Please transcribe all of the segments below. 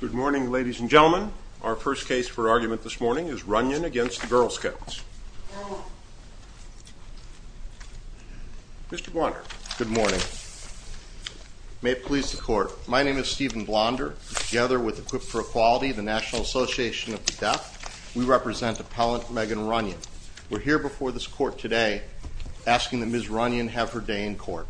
Good morning ladies and gentlemen. Our first case for argument this morning is Runnion against the Girl Scouts. Mr. Blonder. Good morning. May it please the court. My name is Stephen Blonder. Together with Equipped for Equality, the National Association of the Deaf, we represent appellant Megan Runnion. We're here before this court today asking that Ms. Runnion have her day in court.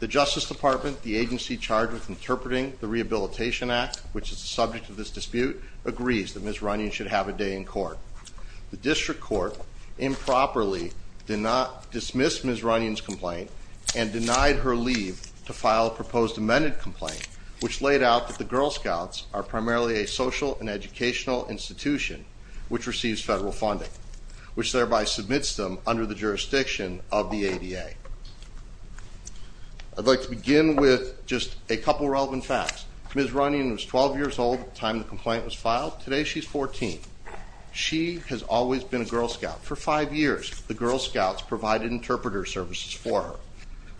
The Justice Department, the agency charged with interpreting the Rehabilitation Act, which is the subject of this dispute, agrees that Ms. Runnion should have a day in court. The district court improperly did not dismiss Ms. Runnion's complaint and denied her leave to file a proposed amended complaint which laid out that the Girl Scouts are primarily a social and educational institution which receives federal funding, which thereby submits them under the Let's begin with just a couple relevant facts. Ms. Runnion was 12 years old at the time the complaint was filed. Today she's 14. She has always been a Girl Scout. For five years the Girl Scouts provided interpreter services for her.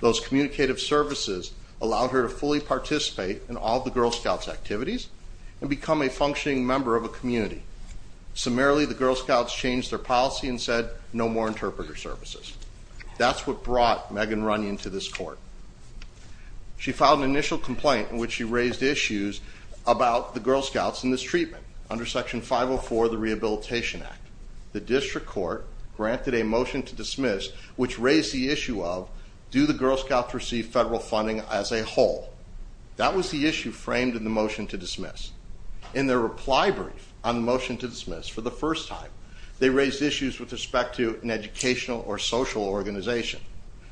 Those communicative services allowed her to fully participate in all the Girl Scouts activities and become a functioning member of a community. Summarily the Girl Scouts changed their policy and said no more interpreter services. That's what brought Megan Runnion to this court. She filed an initial complaint in which she raised issues about the Girl Scouts in this treatment under section 504 of the Rehabilitation Act. The district court granted a motion to dismiss which raised the issue of do the Girl Scouts receive federal funding as a whole. That was the issue framed in the motion to dismiss. In their reply brief on the motion to dismiss for the first time they raised issues with respect to an educational or social organization.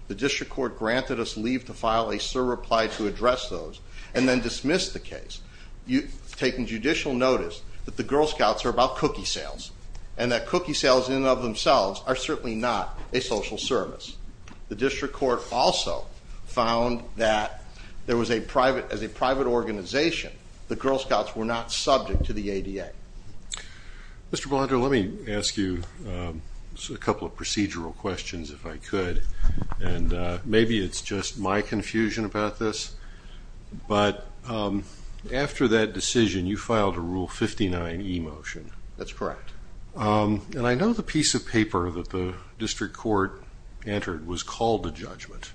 The district court granted us leave to file a surreply to address those and then dismiss the case. You've taken judicial notice that the Girl Scouts are about cookie sales and that cookie sales in and of themselves are certainly not a social service. The district court also found that there was a private as a private organization the Girl Scouts were not subject to the ADA. Mr. Blondo let me ask you a couple of procedural questions if I could and maybe it's just my confusion about this but after that decision you filed a rule 59e motion. That's correct. And I know the piece of paper that the district court entered was called a judgment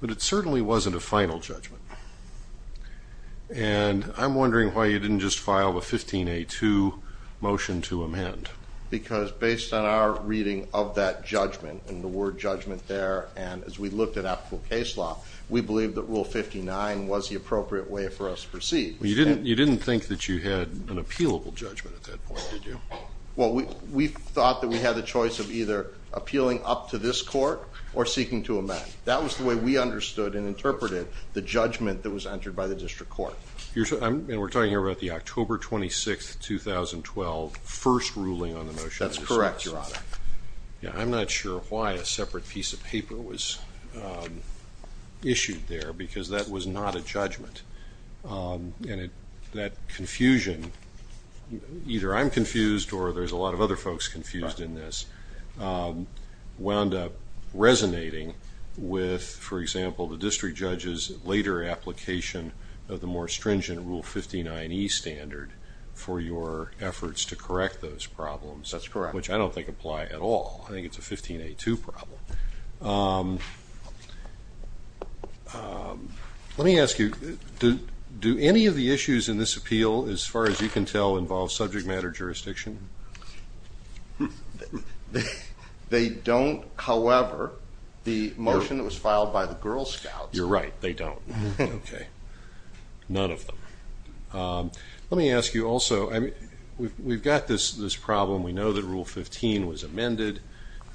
but it certainly wasn't a final judgment and I'm because based on our reading of that judgment and the word judgment there and as we looked at applicable case law we believe that rule 59 was the appropriate way for us to proceed. You didn't think that you had an appealable judgment at that point did you? Well we thought that we had the choice of either appealing up to this court or seeking to amend. That was the way we understood and interpreted the judgment that was entered by the district court. And we're talking about the October 26th 2012 first ruling on the motion. That's correct your honor. Yeah I'm not sure why a separate piece of paper was issued there because that was not a judgment and that confusion either I'm confused or there's a lot of other folks confused in this wound up resonating with for example the district judges later application of the more stringent rule 59e standard for your efforts to correct those problems. That's correct. Which I don't think apply at all. I think it's a 15a2 problem. Let me ask you do any of the issues in this appeal as far as you can tell involve subject matter jurisdiction? They don't however the motion that was filed by the Girl Scouts. You're right they don't. Okay none of them. Let me ask you also I mean we've got this this problem we know that rule 15 was amended.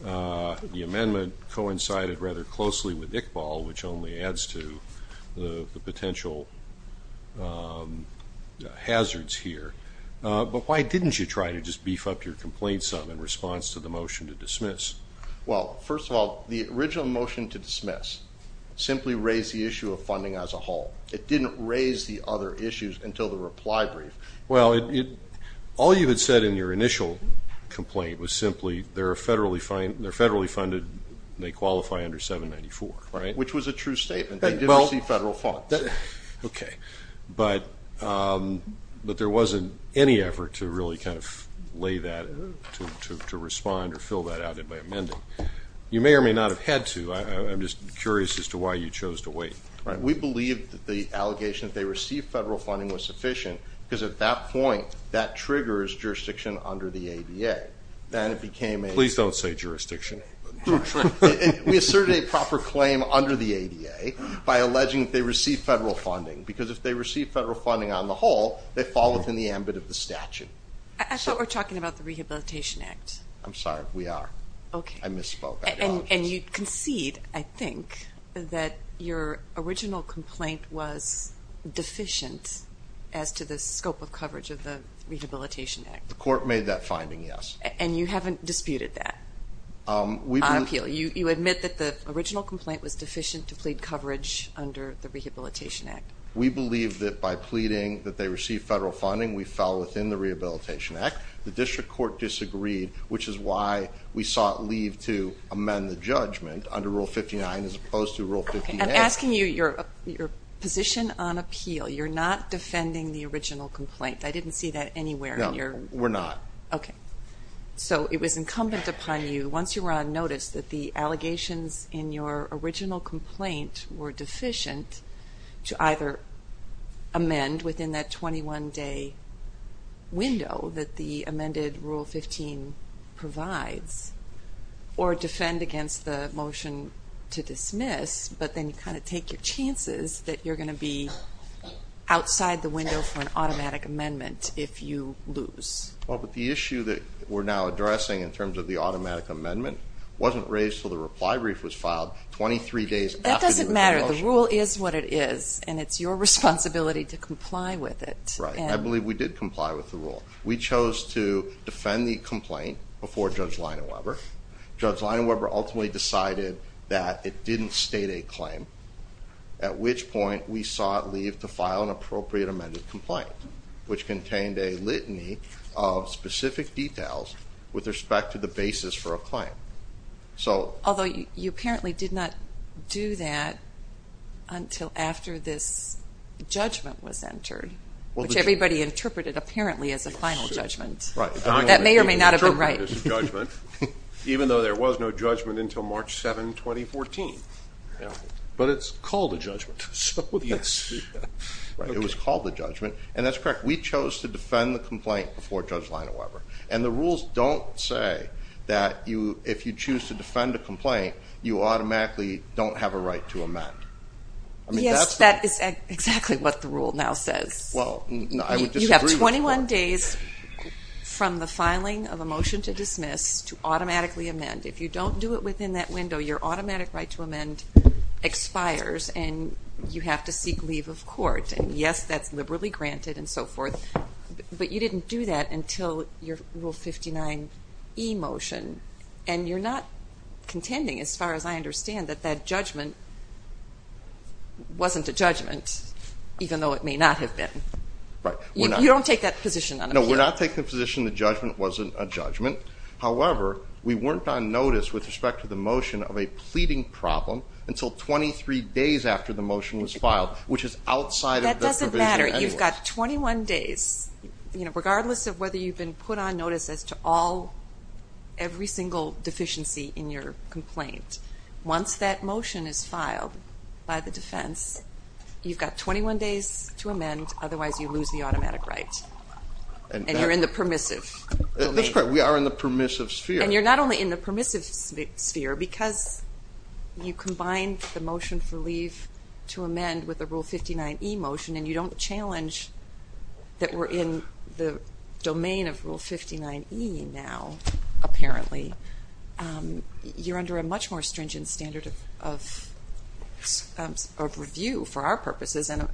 The amendment coincided rather closely with Iqbal which only adds to the potential hazards here. But why didn't you try to just beef up your complaint some in response to the motion to dismiss? Well first of all the original motion to dismiss simply raised the issue of funding as a whole. It didn't raise the other issues until the reply brief. Well it all you had said in your initial complaint was simply there are federally fine they're federally funded they qualify under 794 right? Which was a true statement. They didn't see federal funds. Okay but but there wasn't any effort to really kind of lay that to respond or fill that out in my amending. You may or may not have had to I'm just curious as to why you chose to wait. Right we believe that the allegations they received federal funding was sufficient because at that point that triggers jurisdiction under the ADA. Then it became a... Please don't say jurisdiction. We asserted a proper claim under the ADA by alleging they receive federal funding because if they receive federal funding on the whole they fall within the ambit of the statute. I thought we're talking about the Rehabilitation Act. I'm sorry we are. Okay. I misspoke. And you concede I think that your original complaint was deficient as to the scope of coverage of the Rehabilitation Act. The court made that finding yes. And you haven't disputed that appeal. You admit that the We believe that by pleading that they receive federal funding we fell within the Rehabilitation Act. The district court disagreed which is why we sought leave to amend the judgment under Rule 59 as opposed to Rule 58. I'm asking you your position on appeal. You're not defending the original complaint. I didn't see that anywhere. No we're not. Okay so it was incumbent upon you once you were on notice that the allegations in your original complaint were deficient to either amend within that 21 day window that the amended Rule 15 provides or defend against the motion to dismiss but then kind of take your chances that you're going to be outside the window for an automatic amendment if you lose. Well but the issue that we're now addressing in terms of the automatic amendment wasn't raised till the reply brief was filed 23 days after the motion. That doesn't Rule is what it is and it's your responsibility to comply with it. Right I believe we did comply with the rule. We chose to defend the complaint before Judge Leina Weber. Judge Leina Weber ultimately decided that it didn't state a claim at which point we sought leave to file an appropriate amended complaint which contained a litany of specific details with respect to the basis for a until after this judgment was entered which everybody interpreted apparently as a final judgment. That may or may not have been right. Even though there was no judgment until March 7, 2014. But it's called a judgment. It was called a judgment and that's correct. We chose to defend the complaint before Judge Leina Weber and the rules don't say that you if you choose to defend a complaint you automatically don't have a right to amend. Yes that is exactly what the rule now says. Well you have 21 days from the filing of a motion to dismiss to automatically amend. If you don't do it within that window your automatic right to amend expires and you have to seek leave of court and yes that's liberally granted and so forth but you didn't do that until your Rule 59e motion and you're not contending as far as I understand that that judgment wasn't a judgment even though it may not have been. Right. You don't take that position on it. No we're not taking the position the judgment wasn't a judgment however we weren't on notice with respect to the motion of a pleading problem until 23 days after the motion was filed which is outside of the provision anyway. That doesn't matter you've got 21 days you know regardless of whether you've been put on notice as to all every single deficiency in your complaint once that motion is filed by the defense you've got 21 days to amend otherwise you lose the automatic right and you're in the permissive. That's correct we are in the permissive sphere. And you're not only in the permissive sphere because you combine the motion for leave to amend with the Rule 59e motion and you don't challenge that we're in the domain of apparently you're under a much more stringent standard of review for our purposes and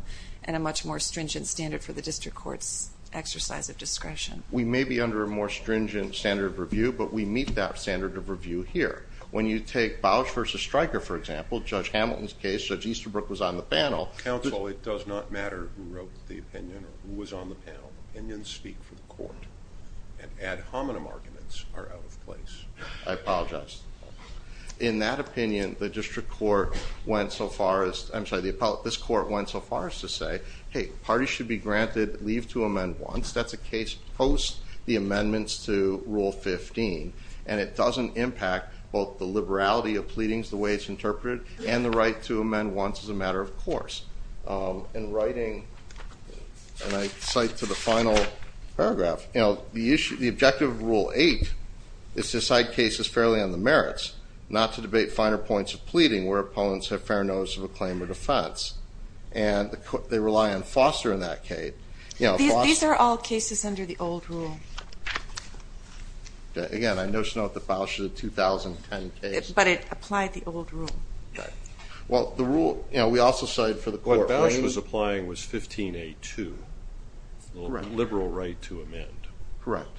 a much more stringent standard for the district courts exercise of discretion. We may be under a more stringent standard of review but we meet that standard of review here. When you take Bouch versus Stryker for example Judge Hamilton's case Judge Easterbrook was on the panel. Counsel it does not matter who wrote the opinion or who was on the panel. Opinions speak for I apologize. In that opinion the district court went so far as I'm sorry the about this court went so far as to say hey parties should be granted leave to amend once that's a case post the amendments to Rule 15 and it doesn't impact both the liberality of pleadings the way it's interpreted and the right to amend once as a matter of course. In writing and I cite to the final paragraph you know the issue the objective of Rule 8 is to cite cases fairly on the merits not to debate finer points of pleading where opponents have fair notice of a claim or defense and they rely on foster in that case. These are all cases under the old rule. Again I notice note the Bouch of the 2010 case. But it applied the old rule. Well the rule you know we also cited for the liberal right to amend. Correct.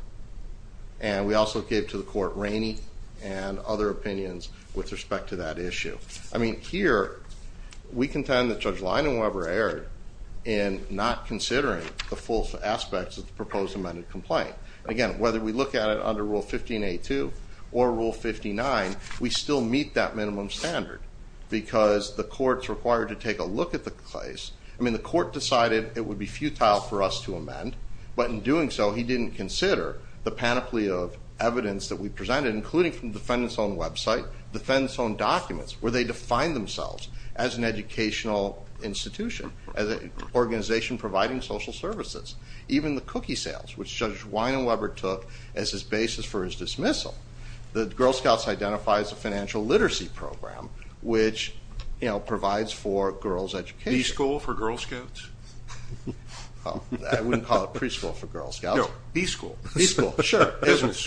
And we also gave to the court Rainey and other opinions with respect to that issue. I mean here we contend that Judge Leinan Weber erred in not considering the full aspects of the proposed amended complaint. Again whether we look at it under Rule 15a2 or Rule 59 we still meet that minimum standard because the courts required to take a look at the place. I would be futile for us to amend but in doing so he didn't consider the panoply of evidence that we presented including from defendants own website, defendants own documents where they define themselves as an educational institution as an organization providing social services. Even the cookie sales which Judge Wein and Weber took as his basis for his dismissal. The Girl Scouts identifies a financial literacy program which you know provides for girls education. B-School for Girl Scouts? I wouldn't call it preschool for Girl Scouts. No, B-School. B-School, sure.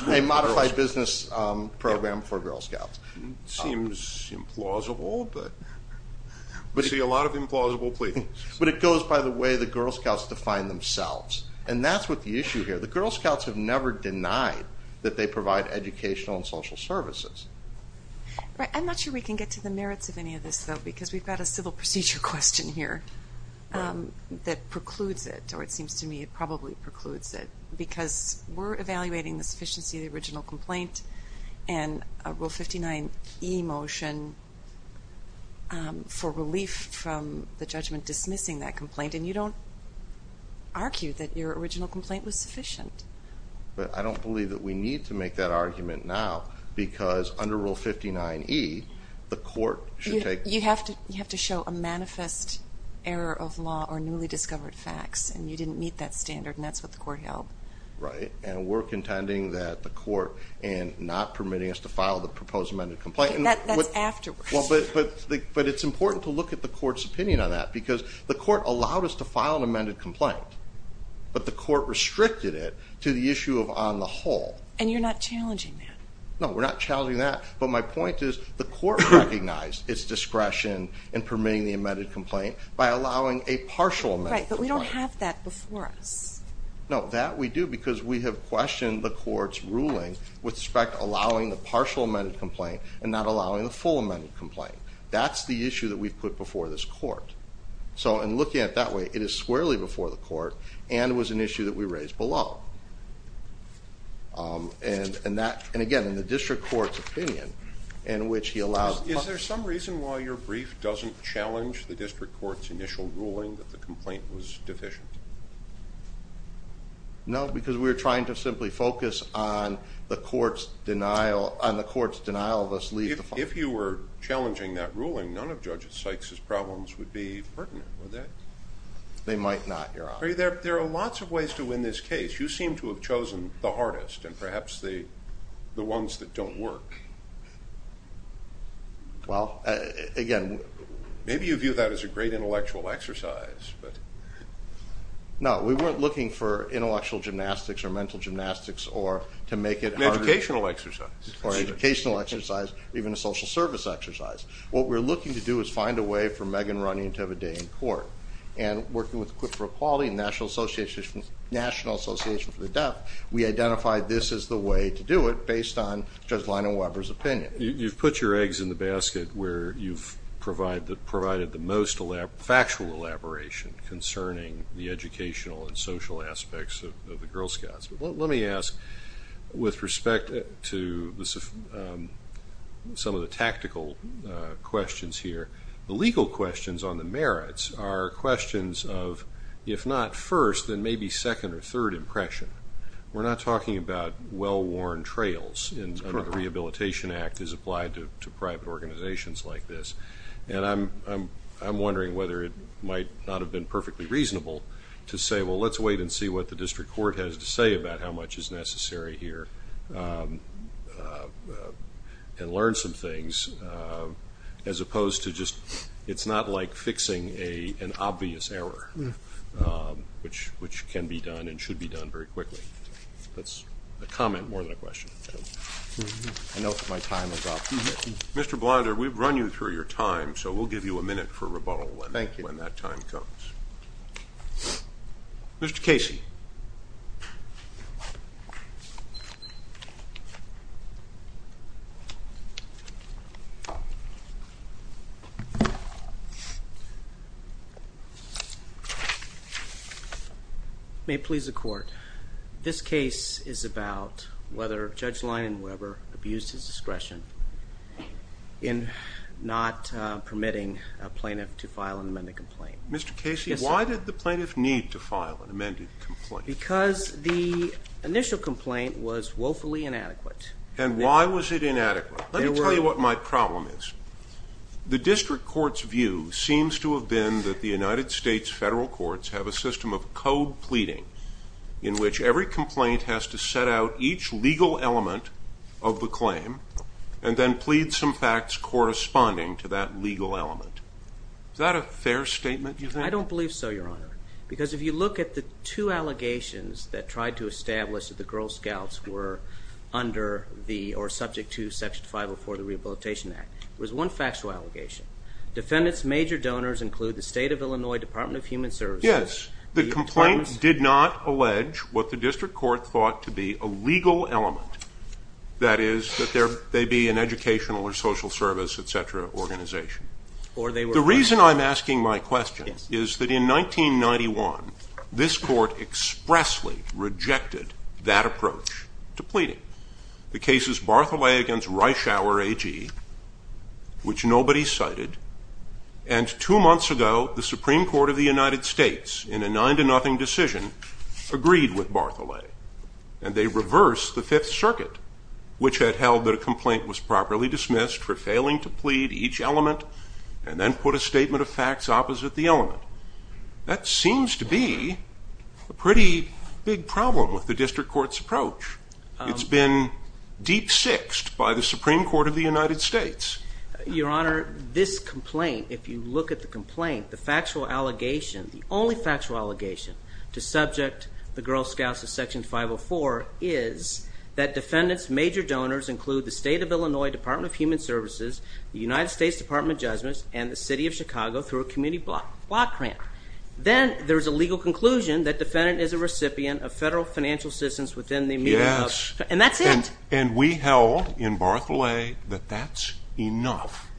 A modified business program for Girl Scouts. Seems implausible but but see a lot of implausible pleadings. But it goes by the way the Girl Scouts define themselves and that's what the issue here. The Girl Scouts have never denied that they provide educational and social services. Right I'm not sure we can get to the merits of any of this though because we've got a civil procedure question here that precludes it or it seems to me it probably precludes it because we're evaluating the sufficiency of the original complaint and a Rule 59e motion for relief from the judgment dismissing that complaint and you don't argue that your original complaint was sufficient. But I don't believe that we need to make that argument now because under Rule 59e the manifest error of law or newly discovered facts and you didn't meet that standard and that's what the court held. Right and we're contending that the court and not permitting us to file the proposed amended complaint. That's afterwards. Well but but but it's important to look at the court's opinion on that because the court allowed us to file an amended complaint but the court restricted it to the issue of on the whole. And you're not challenging that? No we're not challenging that but my point is the court recognized its discretion in permitting the amended complaint by allowing a partial amendment. Right but we don't have that before us. No that we do because we have questioned the court's ruling with respect allowing the partial amended complaint and not allowing the full amended complaint. That's the issue that we've put before this court. So and looking at that way it is squarely before the court and was an issue that we raised below. And and that and again in the district court's opinion in which he allows. Is there some reason why your brief doesn't challenge the district court's initial ruling that the complaint was deficient? No because we were trying to simply focus on the court's denial on the court's denial of us leaving. If you were challenging that ruling none of Judge Sykes's problems would be pertinent. They might not your honor. There are lots of ways to win this case. You seem to have chosen the hardest and perhaps the the ones that don't work. Well again. Maybe you view that as a great intellectual exercise but. No we weren't looking for intellectual gymnastics or mental gymnastics or to make it an educational exercise or educational exercise or even a social service exercise. What we're looking to do is find a way for Megan Runyon to have a day in court. And working with Equip for Equality and National Association National Association for the Deaf we identified this is the way to do it based on Judge Lino Weber's opinion. You've put your eggs in the basket where you've provided the most factual elaboration concerning the educational and social aspects of the Girl Scouts. Let me ask with respect to some of the tactical questions here. The legal questions on the merits are questions of if not first then maybe second or third impression. We're not talking about well-worn trails and the Rehabilitation Act is applied to private organizations like this and I'm wondering whether it might not have been perfectly reasonable to say well let's wait and see what the district court has to say about how much is necessary here and learn some things as opposed to just it's not like fixing an obvious error which can be done and should be very quickly. That's a comment more than a question. I know my time is up. Mr. Blinder we've run you through your time so we'll give you a minute for rebuttal when that time comes. Thank you. Mr. Casey. May please the court. This case is about whether Judge Leinan Weber abused his discretion in not permitting a plaintiff to file an amended complaint. Mr. Casey why did the plaintiff need to file an amended complaint? Because the initial complaint was woefully inadequate. And why was it inadequate? Let me tell you what my problem is. The district court's view seems to have been that the United States federal courts have a system of code pleading in which every complaint has to set out each legal element of the claim and then plead some facts corresponding to that legal element. Is that a fair statement? I don't believe so your honor. Because if you look at the two allegations that tried to establish that the Girl Scouts were under the or subject to section 504 the Rehabilitation Act. There was one factual allegation. Defendants major donors include the state of Illinois Department of Human Services. Yes the complaint did not allege what the district court thought to be a legal element. That is that there may be an educational or social service etc. organization. Or they The reason I'm asking my question is that in 1991 this court expressly rejected that approach to pleading. The cases Bartholet against Reischauer AG which nobody cited. And two months ago the Supreme Court of the United States in a nine-to-nothing decision agreed with Bartholet. And they reversed the Fifth Circuit which had held that a complaint was properly dismissed for failing to put a statement of facts opposite the element. That seems to be a pretty big problem with the district court's approach. It's been deep-sixed by the Supreme Court of the United States. Your honor this complaint if you look at the complaint the factual allegation the only factual allegation to subject the Girl Scouts to section 504 is that defendants major donors include the state of Illinois Department of Human Services the United States Department of Judgments and the city of Chicago through a community block grant. Then there's a legal conclusion that defendant is a recipient of federal financial assistance within the immediate... Yes. And that's it. And we held in Bartholet that that's enough.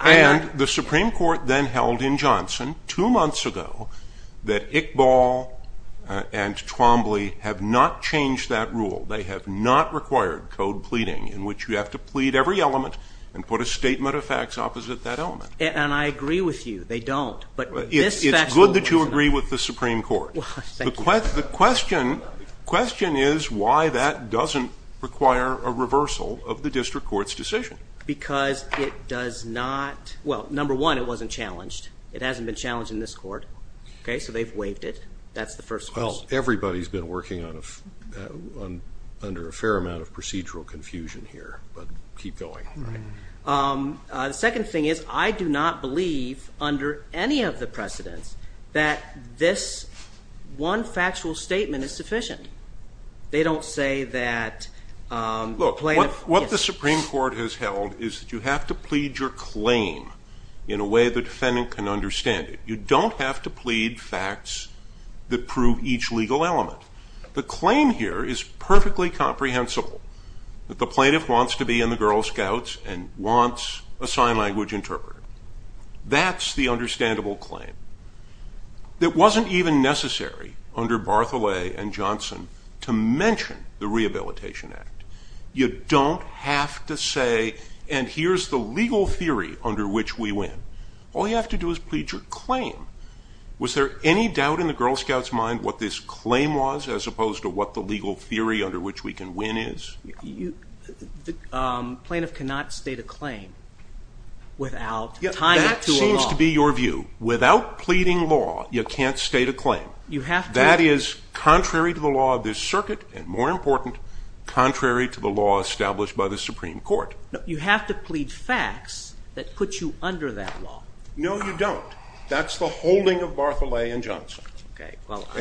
And the Supreme Court then held in Johnson two months ago that Iqbal and Twombly have not changed that rule. They have not required code pleading in which you have to plead every element and put a statement of facts opposite that element. And I agree with you they don't but... It's good that you agree with the Supreme Court. The question is why that doesn't require a reversal of the district court's decision. Because it does not well number one it wasn't challenged it hasn't been challenged in this court okay so they've waived it that's the first. Well everybody's been working on a under a keep going. The second thing is I do not believe under any of the precedents that this one factual statement is sufficient. They don't say that... Look what the Supreme Court has held is that you have to plead your claim in a way the defendant can understand it. You don't have to plead facts that prove each legal element. The claim here is perfectly comprehensible that the girl scouts and wants a sign language interpreter. That's the understandable claim. It wasn't even necessary under Barthelet and Johnson to mention the Rehabilitation Act. You don't have to say and here's the legal theory under which we win. All you have to do is plead your claim. Was there any doubt in the Girl Scouts mind what this claim was as opposed to what the legal theory under which we can win is? The plaintiff cannot state a claim without tying it to a law. That seems to be your view without pleading law you can't state a claim. You have to. That is contrary to the law of this circuit and more important contrary to the law established by the Supreme Court. You have to plead facts that put you under that law. No you don't. That's the holding of Barthelet and Johnson.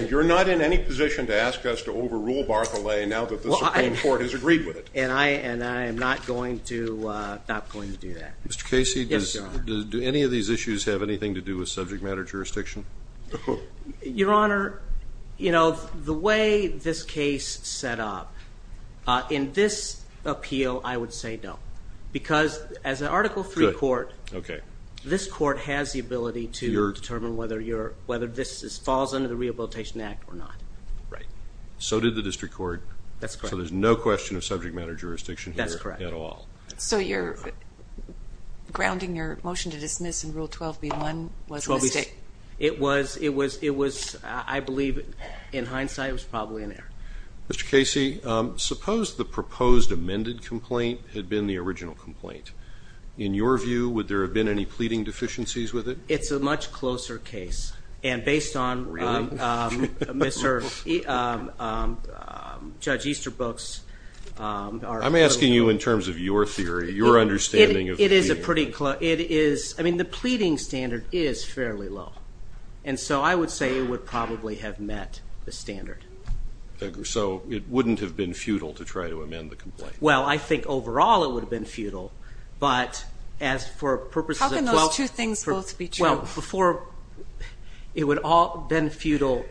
You're not in any position to ask us to plead facts that the Supreme Court has agreed with. And I am not going to do that. Mr. Casey, do any of these issues have anything to do with subject matter jurisdiction? Your Honor, you know the way this case set up in this appeal I would say no. Because as an Article III court, this court has the ability to determine whether this falls under the Rehabilitation Act or not. Right. So did the District Court. That's correct. So there's no question of subject matter jurisdiction. That's correct. At all. So you're grounding your motion to dismiss in Rule 12b-1 was a mistake? It was, it was, it was, I believe in hindsight it was probably an error. Mr. Casey, suppose the proposed amended complaint had been the original complaint. In your view would there have been any pleading deficiencies with it? It's a much closer case and based on Mr. Judge Easterbrook's. I'm asking you in terms of your theory, your understanding. It is a pretty close, it is, I mean the pleading standard is fairly low. And so I would say it would probably have met the standard. So it wouldn't have been futile to try to amend the complaint? Well I think overall it would have been futile, but as for purposes of those two things both be true. Well before, it would all have been futile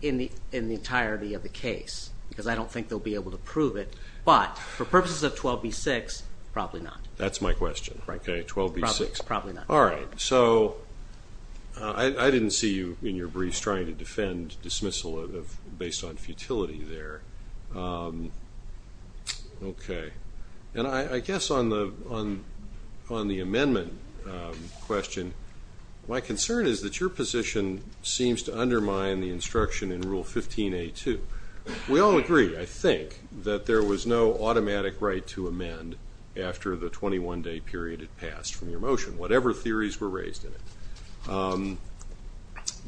in the entirety of the case because I don't think they'll be able to prove it. But for purposes of 12b-6 probably not. That's my question. Right. Okay. 12b-6. Probably not. All right. So I didn't see you in your briefs trying to defend dismissal of based on futility there. Okay. And I guess on the on on the amendment question, my concern is that your position seems to undermine the instruction in Rule 15a-2. We all agree, I think, that there was no automatic right to amend after the 21-day period had passed from your motion, whatever theories were raised in it.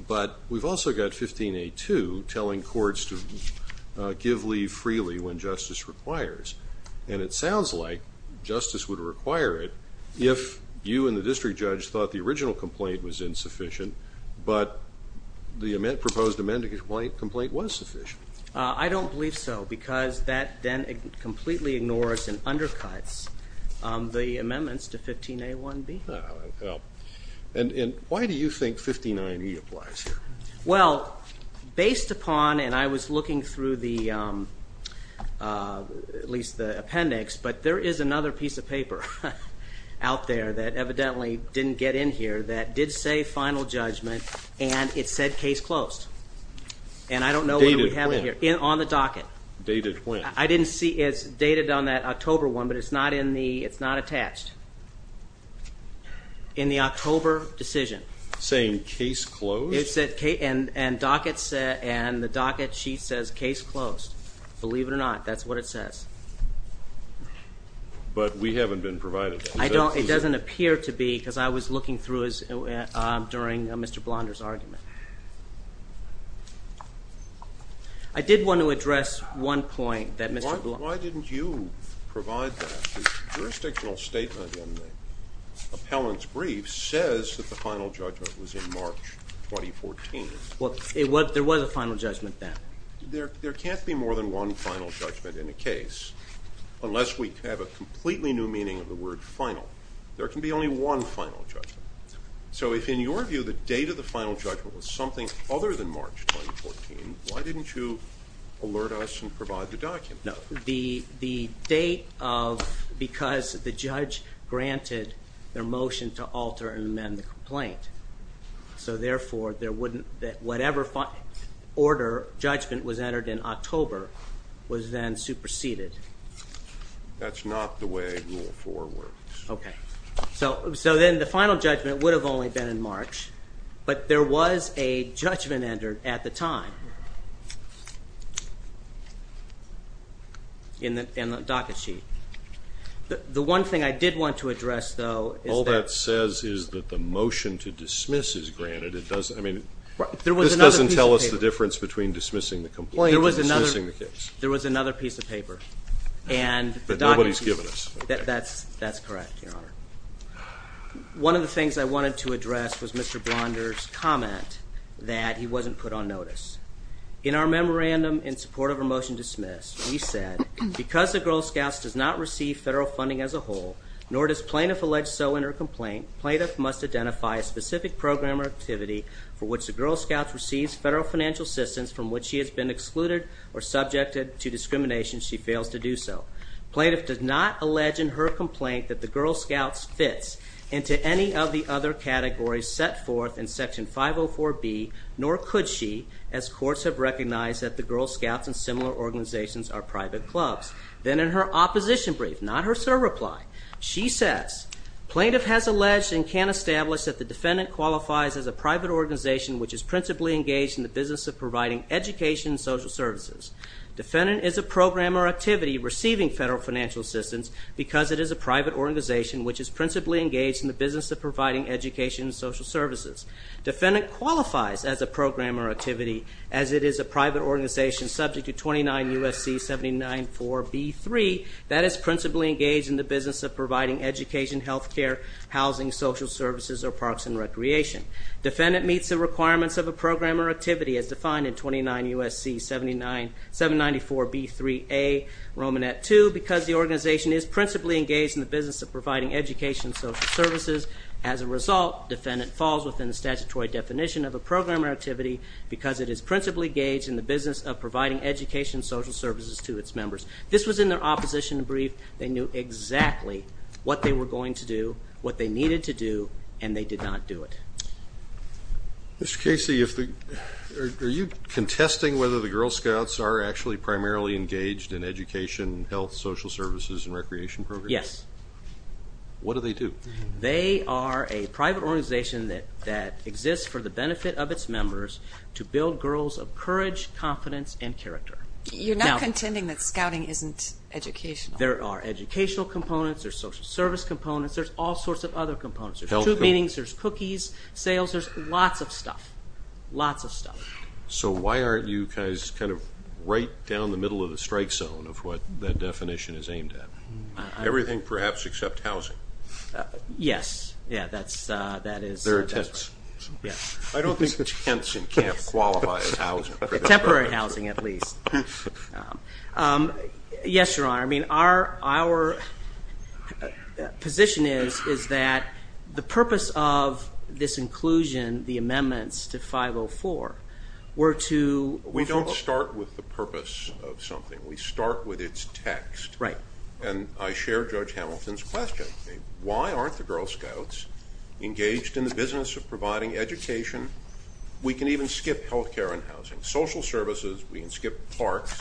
But we've also got 15a-2 telling courts to give leave freely when justice requires. And it sounds like justice would require it if you and the district judge thought the original complaint was insufficient, but the proposed amendment complaint was sufficient. I don't believe so because that then completely ignores and undercuts the amendments to 15a-1b. And why do you think 59e applies here? Well based upon, and I was looking through the, at least the appendix, but there is another piece of paper out there that evidently didn't get in here that did say final judgment and it said case closed. And I don't know whether we have it here. Dated when? On the docket. Dated when? I didn't see, it's dated on that October one, but it's not in the, it's not attached. In the October decision. Saying case closed? It said case, and the docket sheet says case closed. Believe it or not, that's what it says. But we haven't been provided. I don't, it doesn't appear to be because I was looking through his, during Mr. Blonder's argument. I did want to address one point that Mr. Blonder. Why didn't you provide that? The jurisdictional statement in the appellant's brief says that the final judgment then. There, there can't be more than one final judgment in a case unless we have a completely new meaning of the word final. There can be only one final judgment. So if in your view the date of the final judgment was something other than March 2014, why didn't you alert us and provide the document? No. The, the date of, because the judge granted their motion to alter and amend the complaint. So therefore, there wouldn't, that whatever order, judgment was entered in October was then superseded. That's not the way rule four works. Okay. So, so then the final judgment would have only been in March, but there was a judgment entered at the time. In the, in the docket sheet. The, the one thing I did want to address, though, all that says is that the motion to dismiss is granted. It doesn't, I mean. There was another piece of paper. This doesn't tell us the difference between dismissing the complaint and dismissing the case. There was another piece of paper. And the docket sheet. But nobody's given us. That's, that's correct, Your Honor. One of the things I wanted to address was Mr. Blonder's comment that he wasn't put on notice. In our memorandum in support of a motion dismissed, we said because the Girl Scouts does not receive federal funding as a whole, nor does plaintiff allege so in her complaint, plaintiff must identify a specific program or activity for which the Girl Scouts receives federal financial assistance from which she has been excluded or subjected to discrimination she fails to do so. Plaintiff does not allege in her complaint that the Girl Scouts fits into any of the other categories set forth in section 504B, nor could she, as courts have recognized that the Girl Scouts and similar organizations are private clubs. Then in her opposition brief, not her sir reply, she says, plaintiff has alleged and can establish that the defendant qualifies as a private organization which is principally engaged in the business of providing education and social services. Defendant is a program or activity receiving federal financial assistance because it is a private organization which is principally engaged in the business of providing education and social services. Defendant qualifies as a program or activity as it is a private organization subject to 29 U.S.C. 79.4b.3 that is principally engaged in the business of providing education, health care, housing, social services, or parks and recreation. Defendant meets the requirements of a program or activity as defined in 29 U.S.C. 79.4b.3a, Romanette 2, because the organization is principally engaged in the business of providing education and social services. As a result, defendant falls within the statutory definition of a program or activity because it is principally engaged in the business of providing education and social services to its members. This was in their opposition brief. They knew exactly what they were going to do, what they needed to do, and they did not do it. Mr. Casey, are you contesting whether the Girl Scouts are actually primarily engaged in education, health, social services, and recreation programs? Yes. What do they do? They are a private organization that exists for the benefit of its members to build girls of courage, confidence, and There are educational components, there's social service components, there's all sorts of other components. There's group meetings, there's cookies, sales, there's lots of stuff, lots of stuff. So why aren't you guys kind of right down the middle of the strike zone of what that definition is aimed at? Everything perhaps except housing. Yes, yeah, that's, that is. There are tents. Yes. I don't think that tents can't qualify as housing. Temporary housing at least. Yes, your honor, I mean our position is that the purpose of this inclusion, the amendments to 504, were to. We don't start with the purpose of something. We start with its text. Right. And I share Judge Hamilton's question. Why aren't the Girl Scouts engaged in the business of providing education? We can even skip health care and housing, social services, we can skip parks,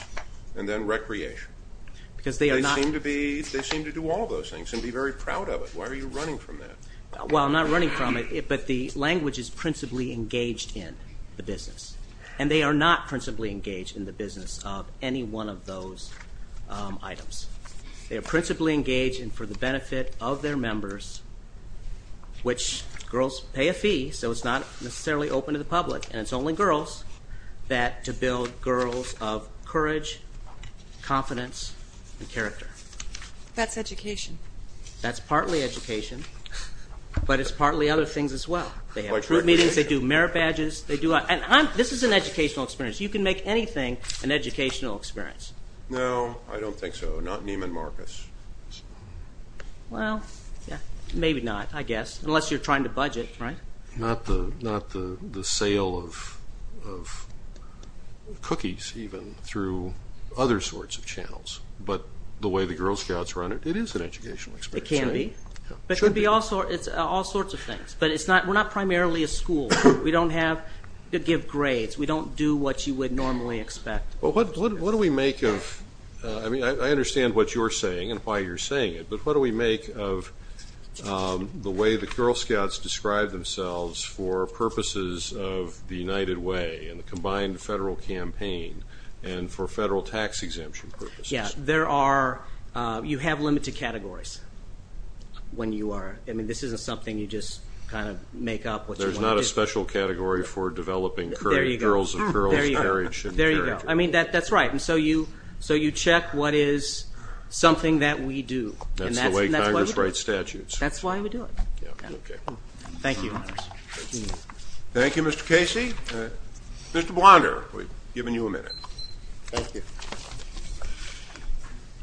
and then recreation. Because they are not. They seem to be, they seem to do all those things and be very proud of it. Why are you running from that? Well, I'm not running from it, but the language is principally engaged in the business and they are not principally engaged in the business of any one of those items. They are principally engaged and for the benefit of their members, which girls pay a fee, so it's not necessarily open to the public, and it's only girls that, to build girls of courage, confidence, and character. That's education. That's partly education, but it's partly other things as well. They have group meetings, they do merit badges, they do, and I'm, this is an educational experience. You can make anything an educational experience. No, I don't think so. Not Neiman Marcus. Well, maybe not, I guess, unless you're trying to budget, right? Not the sale of cookies, even, through other sorts of channels, but the way the Girl Scouts run it, it is an educational experience. It can be, but it could be also, it's all sorts of things, but it's not, we're not primarily a school. We don't have to give grades, we don't do what you would normally expect. Well, what do we make of, I mean, I what do we make of the way the Girl Scouts describe themselves for purposes of the United Way, and the combined federal campaign, and for federal tax exemption purposes? Yeah, there are, you have limited categories when you are, I mean, this isn't something you just kind of make up. There's not a special category for developing girls of courage. There you go. I mean, that's right, and so you, so you check what is something that we do. That's the way Congress writes statutes. That's why we do it. Thank you. Thank you, Mr. Casey. Mr. Blonder, we've given you a minute. Thank you.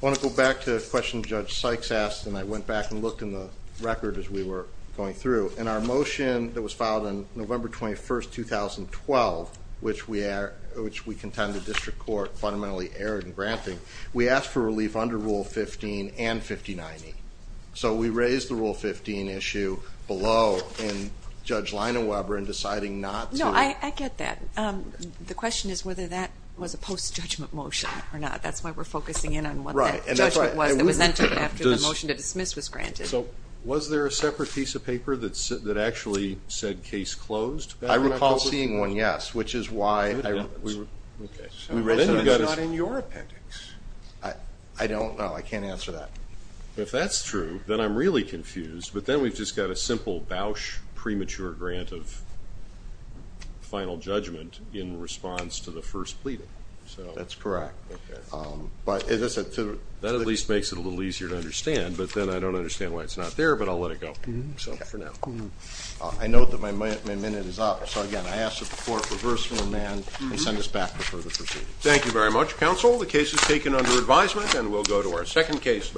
I want to go back to a question Judge Sykes asked, and I went back and looked in the record as we were going through, and our motion that was filed on November 21st, 2012, which we we asked for relief under Rule 15 and 5090. So we raised the Rule 15 issue below, and Judge Leina Weber in deciding not to. No, I get that. The question is whether that was a post-judgment motion or not. That's why we're focusing in on what that judgment was that was entered after the motion to dismiss was granted. So was there a separate piece of paper that actually said case closed? I recall seeing one, yes, which is why. It's not in your appendix. I don't know. I can't answer that. If that's true, then I'm really confused, but then we've just got a simple Bausch premature grant of final judgment in response to the first pleading. So that's correct, but that at least makes it a little easier to understand, but then I don't understand why it's not there, but I'll let it go for now. I note that my minute is up, so again, I ask that the Court reverse my amend and send us back for further proceedings. Thank you very much, counsel. The case is taken under advisement, and we'll go to our second case.